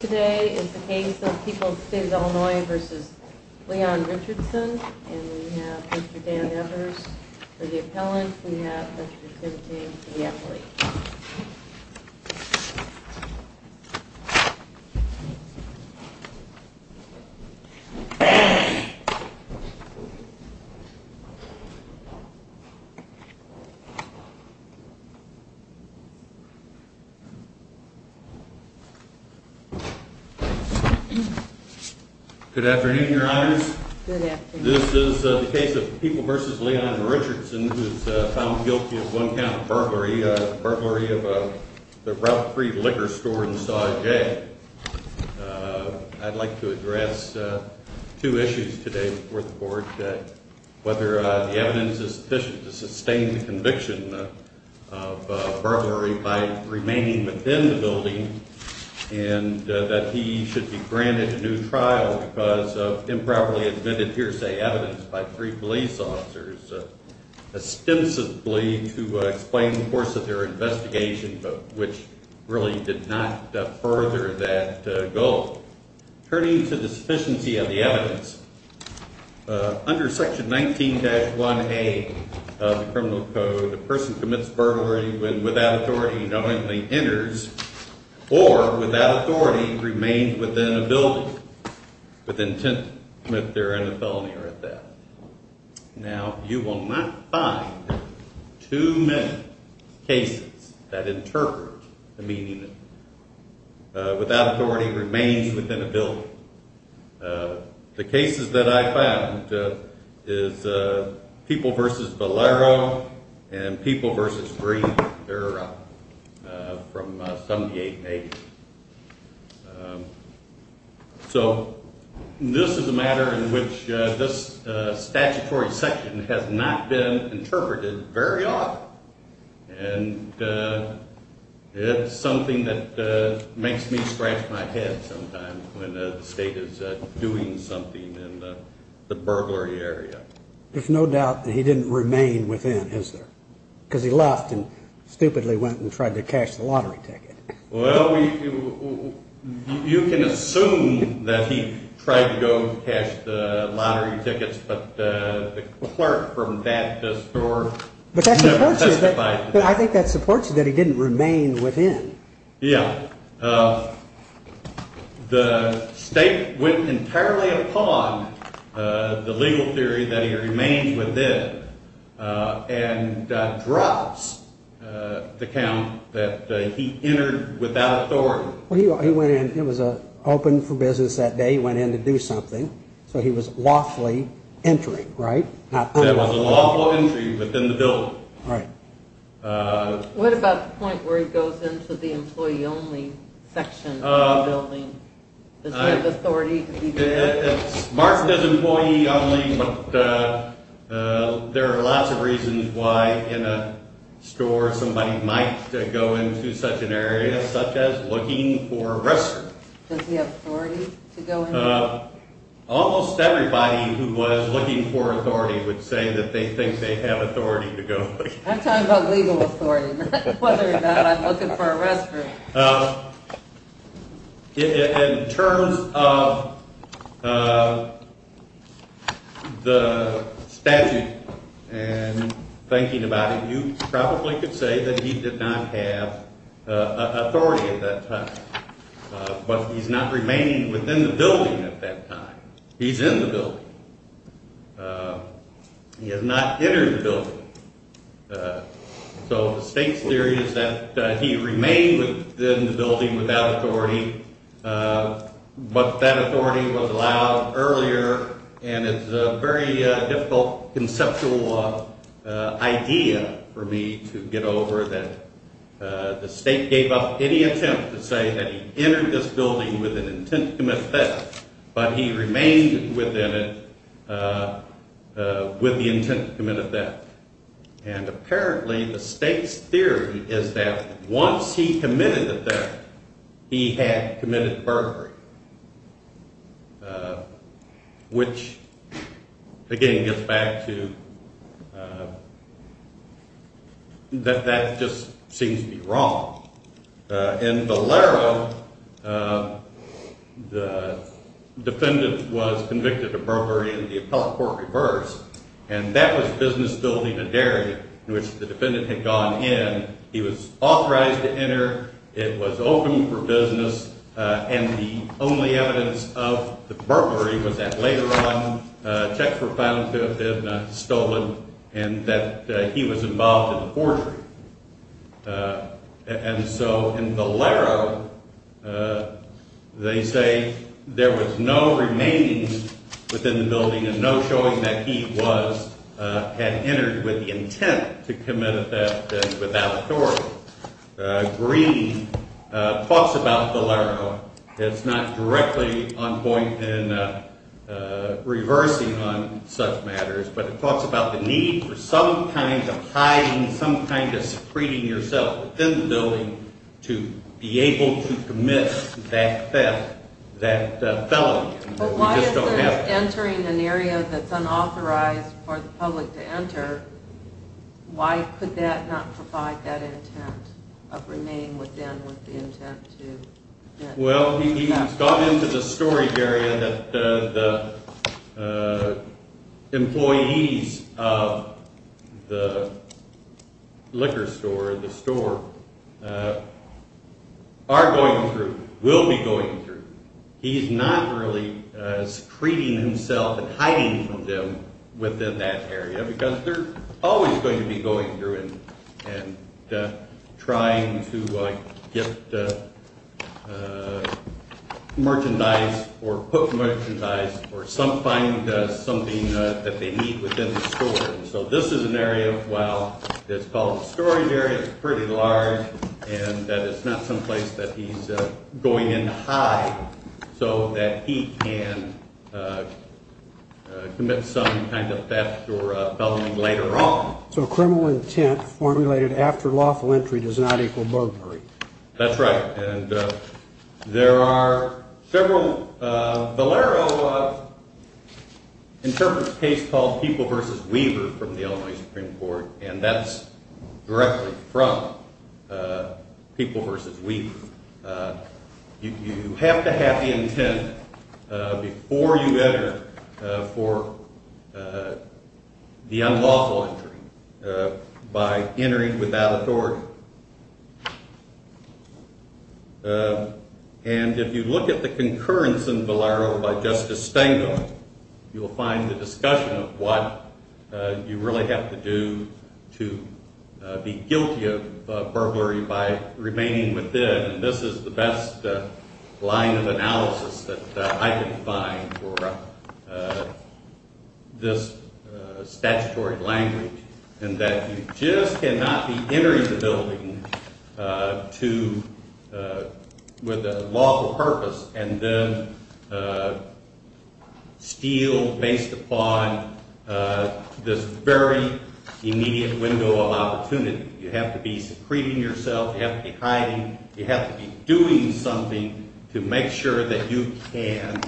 Today is the case of People's State of Illinois v. Leon Richardson, and we have Mr. Dan Evers for the appellant, we have Mr. Kempting for the athlete. Good afternoon, Your Honors. This is the case of People v. Leon Richardson, who is found guilty of one count of burglary, a burglary of the Route 3 liquor store in Saw J. I'd like to address two issues today before the court, whether the evidence is sufficient to sustain the conviction of burglary by remaining within the building, and that he should be granted a new trial because of improperly admitted hearsay evidence by three police officers, ostensibly to explain the course of their investigation, but which really did not further that goal. Turning to the sufficiency of the evidence, under Section 19-1A of the Criminal Code, a person commits burglary when without authority knowingly enters, or without authority remains within a building, with intent to commit therein a felony or a theft. Now, you will not find too many cases that interpret the meaning of that. Without authority remains within a building. The cases that I found is People v. Valero and People v. Green, they're from 78 and 80. So, this is a matter in which this statutory section has not been interpreted very often, and it's something that makes me scratch my head sometimes when the state is doing something in the burglary area. There's no doubt that he didn't remain within, is there? Because he left and stupidly went and tried to cash the lottery ticket. Well, you can assume that he tried to go cash the lottery tickets, but the clerk from that store never testified to that. But I think that supports you that he didn't remain within. Yeah. The state went entirely upon the legal theory that he remained within, and drops the count that he entered without authority. Well, he went in, it was open for business that day, he went in to do something, so he was lawfully entering, right? There was a lawful entry within the building. What about the point where he goes into the employee-only section of the building? Does he have authority to be there? It's marked as employee-only, but there are lots of reasons why in a store somebody might go into such an area, such as looking for a wrestler. Does he have authority to go in there? Almost everybody who was looking for authority would say that they think they have authority to go in there. I'm talking about legal authority, not whether or not I'm looking for a wrestler. In terms of the statute and thinking about it, you probably could say that he did not have authority at that time. But he's not remaining within the building at that time. He's in the building. He has not entered the building. So the state's theory is that he remained within the building without authority, but that authority was allowed earlier, and it's a very difficult conceptual idea for me to get over that the state gave up any attempt to say that he entered this building with an intent to commit theft, but he remained within it with the intent to commit a theft. And apparently the state's theory is that once he committed the theft, he had committed burglary, which, again, gets back to that that just seems to be wrong. In Valero, the defendant was convicted of burglary and the appellate court reversed, and that was business building and dairy in which the defendant had gone in. He was authorized to enter. It was open for business. And the only evidence of the burglary was that later on checks were found to have been stolen and that he was involved in the forgery. And so in Valero, they say there was no remaining within the building, and no showing that he had entered with the intent to commit a theft without authority. Green talks about Valero. It's not directly on point in reversing on such matters, but it talks about the need for some kind of hiding, some kind of secreting yourself within the building to be able to commit that theft, that felony. But why is he entering an area that's unauthorized for the public to enter? Why could that not provide that intent of remain within with the intent to commit theft? Well, he's gone into the storage area that the employees of the liquor store, the store, are going through, will be going through. He's not really secreting himself and hiding from them within that area because they're always going to be going through and trying to get merchandise or put merchandise or find something that they need within the store. So this is an area, while it's called a storage area, it's pretty large, and that it's not someplace that he's going in to hide so that he can commit some kind of theft or felony later on. So criminal intent formulated after lawful entry does not equal burglary. That's right, and there are several... Valero interprets a case called People v. Weaver from the Illinois Supreme Court, and that's directly from People v. Weaver. You have to have the intent before you enter for the unlawful entry by entering without authority. And if you look at the concurrence in Valero by Justice Stengel, you'll find the discussion of what you really have to do to be guilty of burglary by remaining within, and this is the best line of analysis that I can find for this statutory language, and that you just cannot be entering the building with a lawful purpose and then steal based upon this very immediate window of opportunity. You have to be secreting yourself, you have to be hiding, you have to be doing something to make sure that you can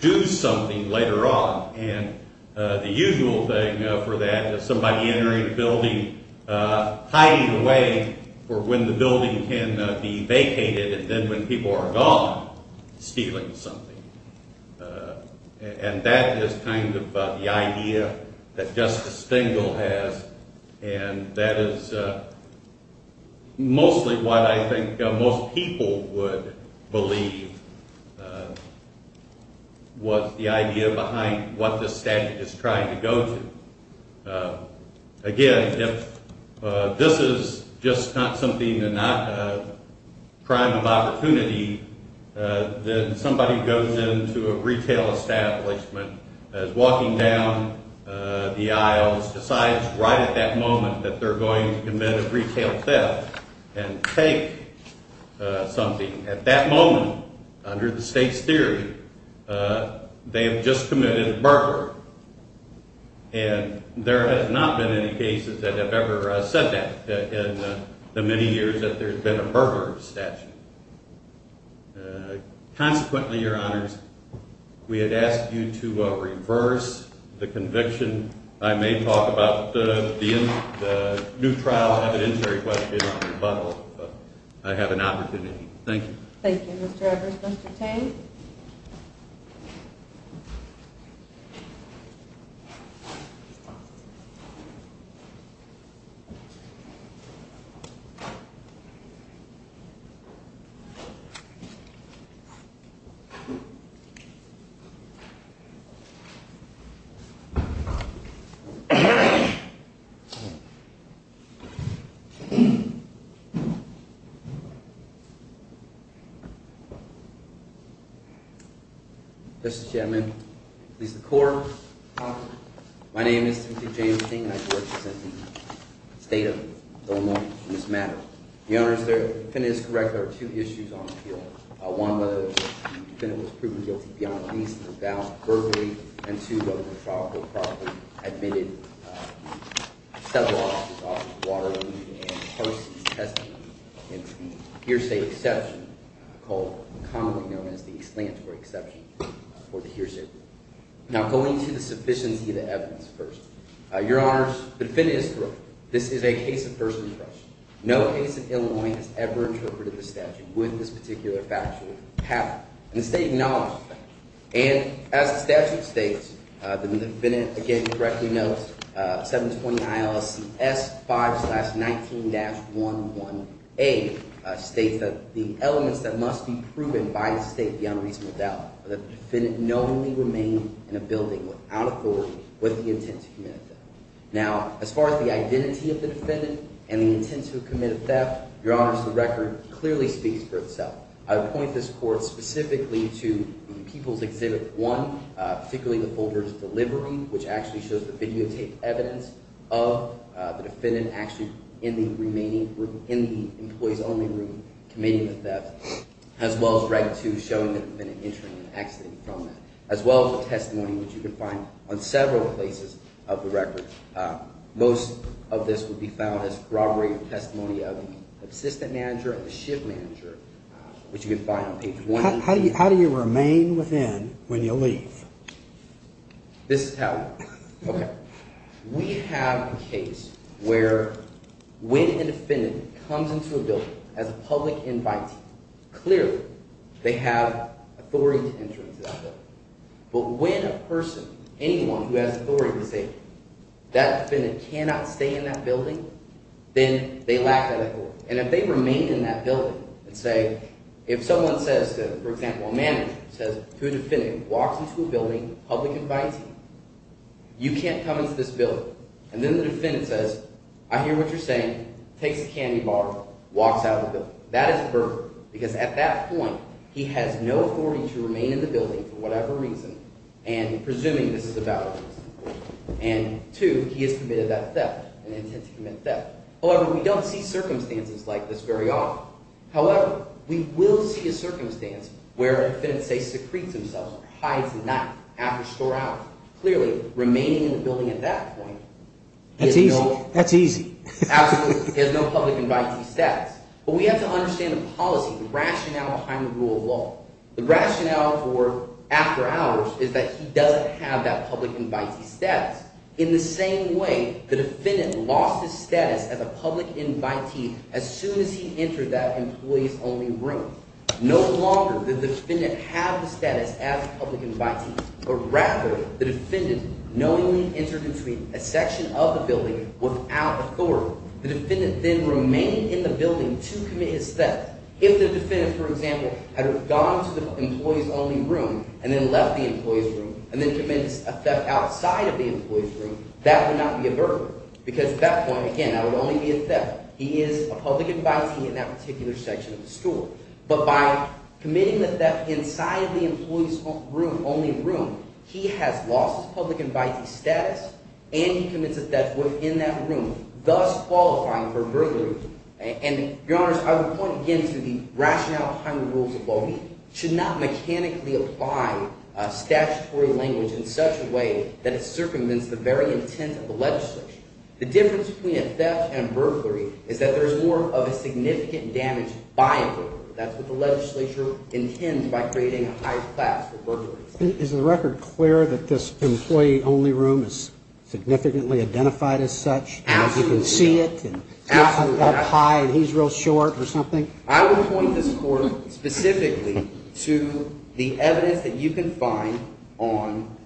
do something later on. And the usual thing for that is somebody entering a building, hiding away for when the building can be vacated, and then when people are gone, stealing something. And that is kind of the idea that Justice Stengel has, and that is mostly what I think most people would believe was the idea behind what this statute is trying to go to. Again, if this is just not something, not a crime of opportunity, then somebody goes into a retail establishment, is walking down the aisles, decides right at that moment that they're going to commit a retail theft and take something. At that moment, under the state's theory, they have just committed a burglary. And there has not been any cases that have ever said that in the many years that there's been a burglary statute. Consequently, Your Honors, we had asked you to reverse the conviction. I may talk about the new trial evidentiary question on the butthole, but I have an opportunity. Thank you. Thank you, Mr. Evers. Thank you, Mr. Tang. Mr. Chairman, please record. My name is Timothy James Stengel, and I represent the state of Illinois in this matter. Your Honors, if I'm correct, there are two issues on the field. One, whether the defendant was proven guilty beyond the least of the doubt of burglary, and two, whether the trial court probably admitted several offenses, water, and parsing testimony, and hearsay exception, commonly known as the explanatory exception for the hearsay. Now, going to the sufficiency of the evidence first. Your Honors, the defendant is correct. This is a case of first impression. No case in Illinois has ever interpreted the statute with this particular factual pattern. And the state acknowledges that. And as the statute states, the defendant, again, correctly notes, 720 ILSC S5-19-11A states that the elements that must be proven by the state beyond reasonable doubt are that the defendant knowingly remained in a building without authority with the intent to commit a theft. Now, as far as the identity of the defendant and the intent to commit a theft, Your Honors, the record clearly speaks for itself. I would point this court specifically to People's Exhibit 1, particularly the folder of delivery, which actually shows the videotaped evidence of the defendant actually in the remaining room, in the employee's only room, committing the theft, as well as Reg. 2 showing the defendant entering and exiting from that, as well as the testimony, which you can find on several places of the record. Most of this would be found as corroborated testimony of the assistant manager and the shift manager, which you can find on page 180. How do you remain within when you leave? This is how. Okay. We have a case where when a defendant comes into a building as a public invitee, clearly they have authority to enter into that building. But when a person, anyone who has authority to say that defendant cannot stay in that building, then they lack that authority. And if they remain in that building and say – if someone says to – for example, a manager says to a defendant who walks into a building, a public invitee, you can't come into this building. And then the defendant says, I hear what you're saying, takes a candy bar, walks out of the building. That is burglary, because at that point he has no authority to remain in the building for whatever reason, and presuming this is a valid reason. And two, he has committed that theft, an intent to commit theft. However, we don't see circumstances like this very often. However, we will see a circumstance where a defendant, say, secretes himself or hides the night after store hours. Clearly, remaining in the building at that point is no – That's easy. That's easy. Absolutely. He has no public invitee status. But we have to understand the policy, the rationale behind the rule of law. The rationale for after hours is that he doesn't have that public invitee status. In the same way, the defendant lost his status as a public invitee as soon as he entered that employees-only room. No longer does the defendant have the status as a public invitee, but rather the defendant knowingly entered between a section of the building without authority. The defendant then remained in the building to commit his theft. If the defendant, for example, had gone to the employees-only room and then left the employees room and then committed a theft outside of the employees room, that would not be a burglary. Because at that point, again, that would only be a theft. He is a public invitee in that particular section of the store. But by committing the theft inside of the employees-only room, he has lost his public invitee status, and he commits a theft within that room, thus qualifying for burglary. And, Your Honors, I would point again to the rationale behind the rules of law. We should not mechanically apply statutory language in such a way that it circumvents the very intent of the legislation. The difference between a theft and a burglary is that there is more of a significant damage by a burglary. That's what the legislature intends by creating a higher class for burglaries. Is the record clear that this employee-only room is significantly identified as such? Absolutely. And you can see it? Absolutely. And it's up high and he's real short or something? I would point this court specifically to the evidence that you can find on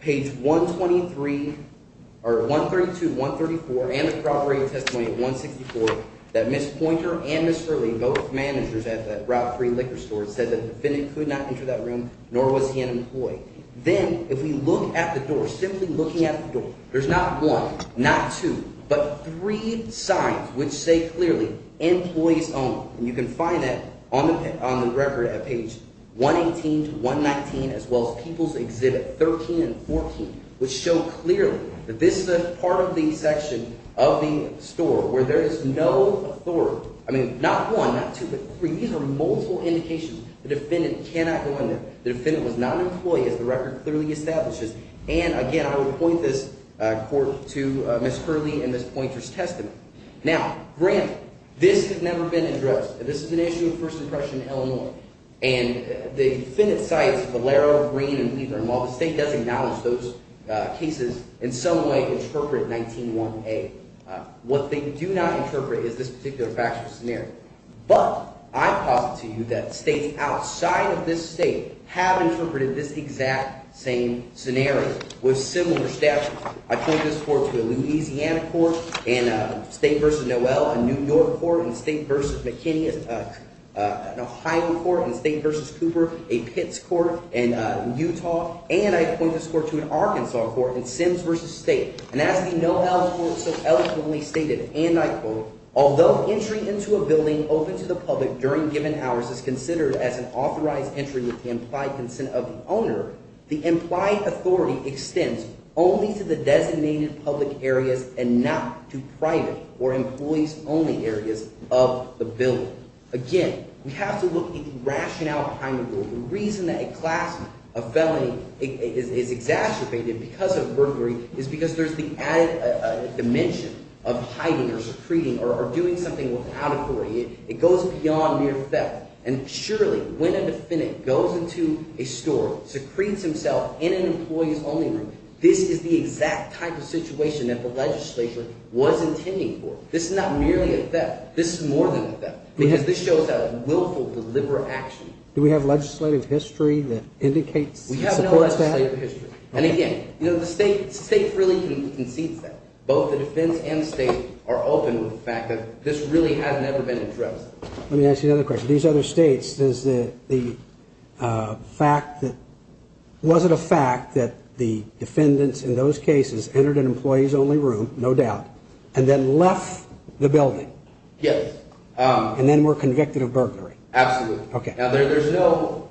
page 132, 134 and the property of testimony at 164 that Ms. Poynter and Ms. Hurley, both managers at that Route 3 liquor store, said that the defendant could not enter that room, nor was he an employee. Then, if we look at the door, simply looking at the door, there's not one, not two, but three signs which say clearly employees only. And you can find that on the record at page 118 to 119 as well as People's Exhibit 13 and 14, which show clearly that this is a part of the section of the store where there is no authority. I mean, not one, not two, but three. These are multiple indications. The defendant cannot go in there. The defendant was not an employee, as the record clearly establishes. And, again, I would point this court to Ms. Hurley and Ms. Poynter's testimony. Now, granted, this has never been addressed. This is an issue of first impression in Illinois. And the defendant cites Valero, Green, and Leithner. And while the state does acknowledge those cases, in some way interpret 19-1A, what they do not interpret is this particular factual scenario. But I posit to you that states outside of this state have interpreted this exact same scenario with similar staff. I point this court to a Louisiana court in State v. Noel, a New York court in State v. McKinney, an Ohio court in State v. Cooper, a Pitts court in Utah. And I point this court to an Arkansas court in Sims v. State. And as the Noel court so eloquently stated, and I quote, although entry into a building open to the public during given hours is considered as an authorized entry with the implied consent of the owner, the implied authority extends only to the designated public areas and not to private or employees-only areas of the building. Again, we have to look at the rationale behind the rule. The reason that a class of felony is exacerbated because of burglary is because there's the added dimension of hiding or secreting or doing something without authority. It goes beyond mere theft. And surely, when a defendant goes into a store, secretes himself in an employee's only room, this is the exact type of situation that the legislature was intending for. This is not merely a theft. This is more than a theft. Because this shows that willful deliberate action. Do we have legislative history that indicates and supports that? We have no legislative history. And again, the state really concedes that. Both the defense and the state are open to the fact that this really has never been addressed. Let me ask you another question. In these other states, was it a fact that the defendants in those cases entered an employee's only room, no doubt, and then left the building? Yes. And then were convicted of burglary? Absolutely. Okay. Now, there's no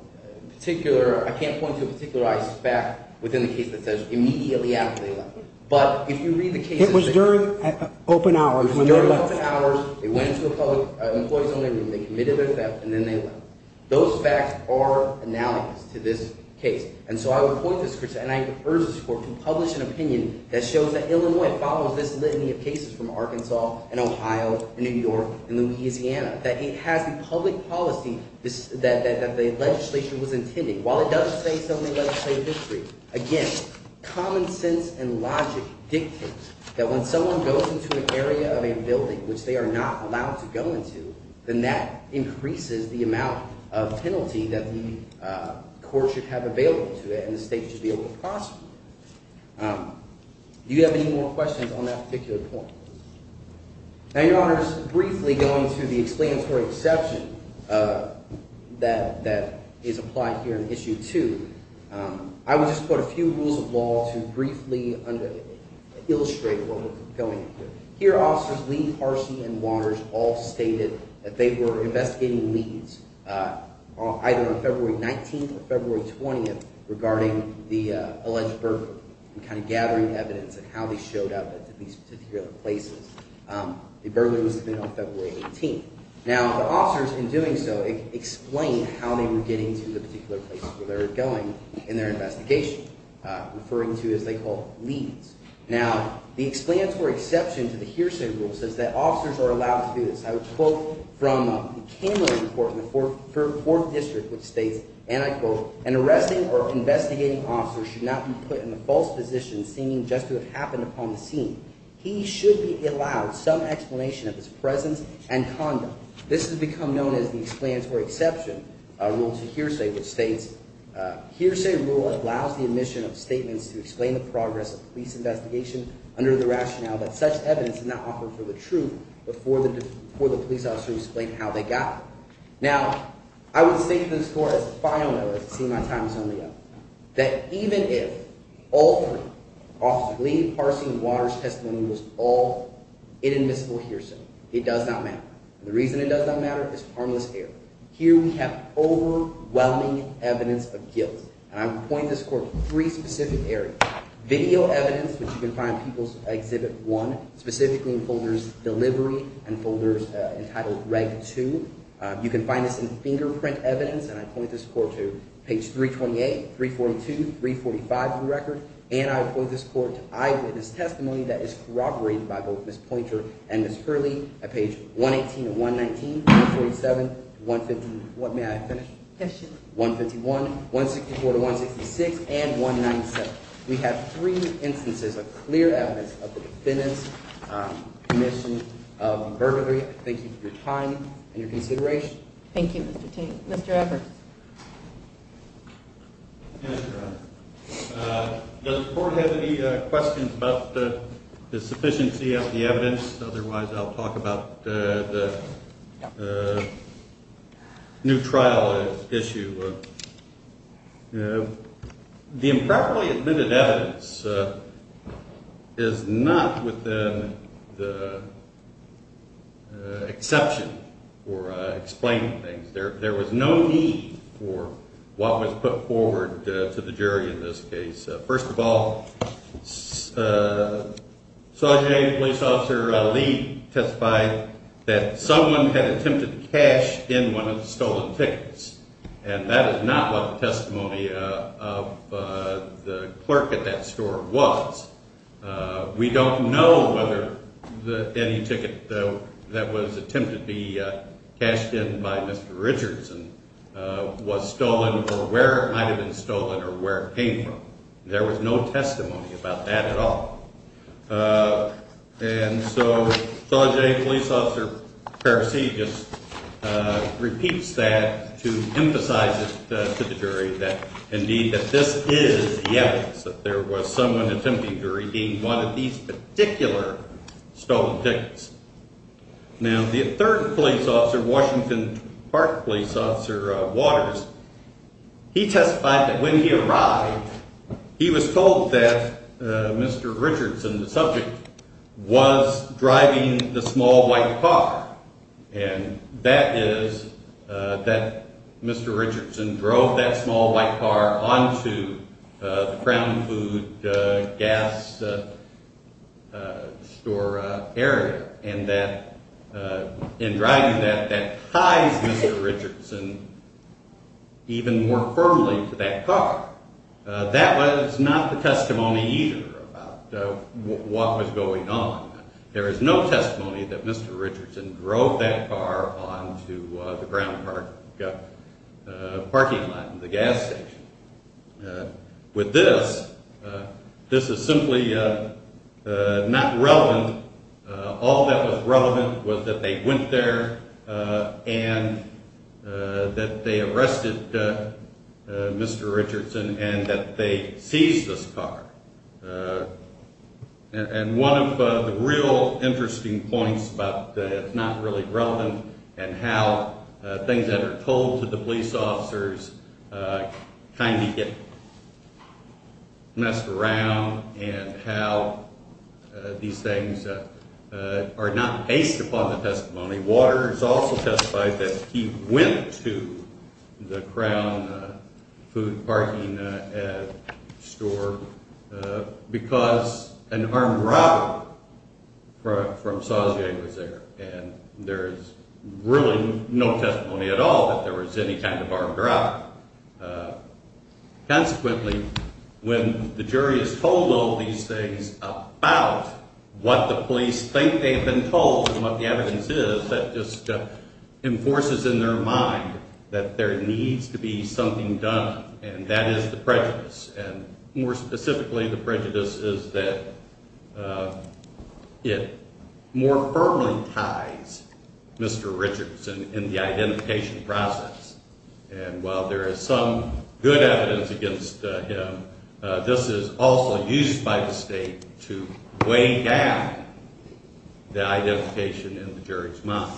particular ‑‑ I can't point to a particular aspect within the case that says immediately after they left. But if you read the case ‑‑ It was during open hours. It was during open hours. They went into an employee's only room. They committed a theft, and then they left. Those facts are analogous to this case. And so I would point this, and I urge this court to publish an opinion that shows that Illinois follows this litany of cases from Arkansas and Ohio and New York and Louisiana. That it has the public policy that the legislation was intending. While it does say something like state history, again, common sense and logic dictate that when someone goes into an area of a building, which they are not allowed to go into, then that increases the amount of penalty that the court should have available to it, and the state should be able to prosecute it. Do you have any more questions on that particular point? Now, Your Honor, just briefly going through the explanatory exception that is applied here in Issue 2, I would just quote a few rules of law to briefly illustrate what we're going through. Here, officers Lee, Parsi, and Waters all stated that they were investigating leads either on February 19th or February 20th regarding the alleged burglary and kind of gathering evidence of how they showed up at these particular places. The burglary was committed on February 18th. Now, the officers, in doing so, explained how they were getting to the particular places where they were going in their investigation, referring to as they call leads. Now, the explanatory exception to the hearsay rule says that officers are allowed to do this. I would quote from the Cameron Report in the Fourth District, which states, and I quote, an arresting or investigating officer should not be put in the false position seeming just to have happened upon the scene. He should be allowed some explanation of his presence and conduct. This has become known as the explanatory exception rule to hearsay, which states, hearsay rule allows the admission of statements to explain the progress of police investigation under the rationale that such evidence is not offered for the truth but for the police officer to explain how they got it. Now, I would state to this Court as a final note, as it seems my time is nearly up, that even if all three, officers Lee, Parsi, and Waters' testimony was all inadmissible hearsay, it does not matter. The reason it does not matter is harmless error. Here we have overwhelming evidence of guilt, and I would point this Court to three specific areas. Video evidence, which you can find in People's Exhibit 1, specifically in folders Delivery and folders entitled Reg. 2. You can find this in fingerprint evidence, and I point this Court to page 328, 342, 345 of the record. And I would point this Court to eyewitness testimony that is corroborated by both Ms. Pointer and Ms. Hurley at page 118 and 119, 147, 151, 164 to 166, and 197. We have three instances of clear evidence of the defendant's commission of burglary. Thank you for your time and your consideration. Thank you, Mr. Tate. Mr. Evers. Yes, Your Honor. Does the Court have any questions about the sufficiency of the evidence? Otherwise, I'll talk about the new trial issue. The improperly admitted evidence is not within the exception for explaining things. There was no need for what was put forward to the jury in this case. First of all, Sgt. Police Officer Lee testified that someone had attempted to cash in one of the stolen tickets, and that is not what the testimony of the clerk at that store was. We don't know whether any ticket that was attempted to be cashed in by Mr. Richardson was stolen or where it might have been stolen or where it came from. There was no testimony about that at all. And so Sgt. Police Officer Parise just repeats that to emphasize it to the jury that, indeed, that this is the evidence that there was someone attempting to redeem one of these particular stolen tickets. Now, the third police officer, Washington Park Police Officer Waters, he testified that when he arrived, he was told that Mr. Richardson, the subject, was driving the small white car. And that is that Mr. Richardson drove that small white car onto the Crown Food Gas Store area, and that in driving that, that ties Mr. Richardson even more firmly to that car. That was not the testimony either about what was going on. There is no testimony that Mr. Richardson drove that car onto the Crown Park parking lot, the gas station. With this, this is simply not relevant. All that was relevant was that they went there and that they arrested Mr. Richardson and that they seized this car. And one of the real interesting points about it's not really relevant and how things that are told to the police officers kind of get messed around and how these things are not based upon the testimony. Waters also testified that he went to the Crown Food parking store because an armed robber from Saussure was there. And there is really no testimony at all that there was any kind of armed robber. Consequently, when the jury is told all these things about what the police think they have been told and what the evidence is, that just enforces in their mind that there needs to be something done. And that is the prejudice. And more specifically, the prejudice is that it more firmly ties Mr. Richardson in the identification process. And while there is some good evidence against him, this is also used by the state to weigh down the identification in the jury's mind.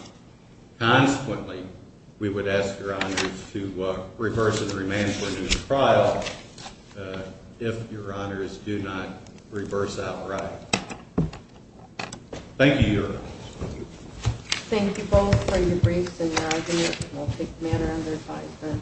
Consequently, we would ask Your Honors to reverse and remand him in the trial if Your Honors do not reverse outright. Thank you both for your briefs and your argument, and I'll take the matter under advisory.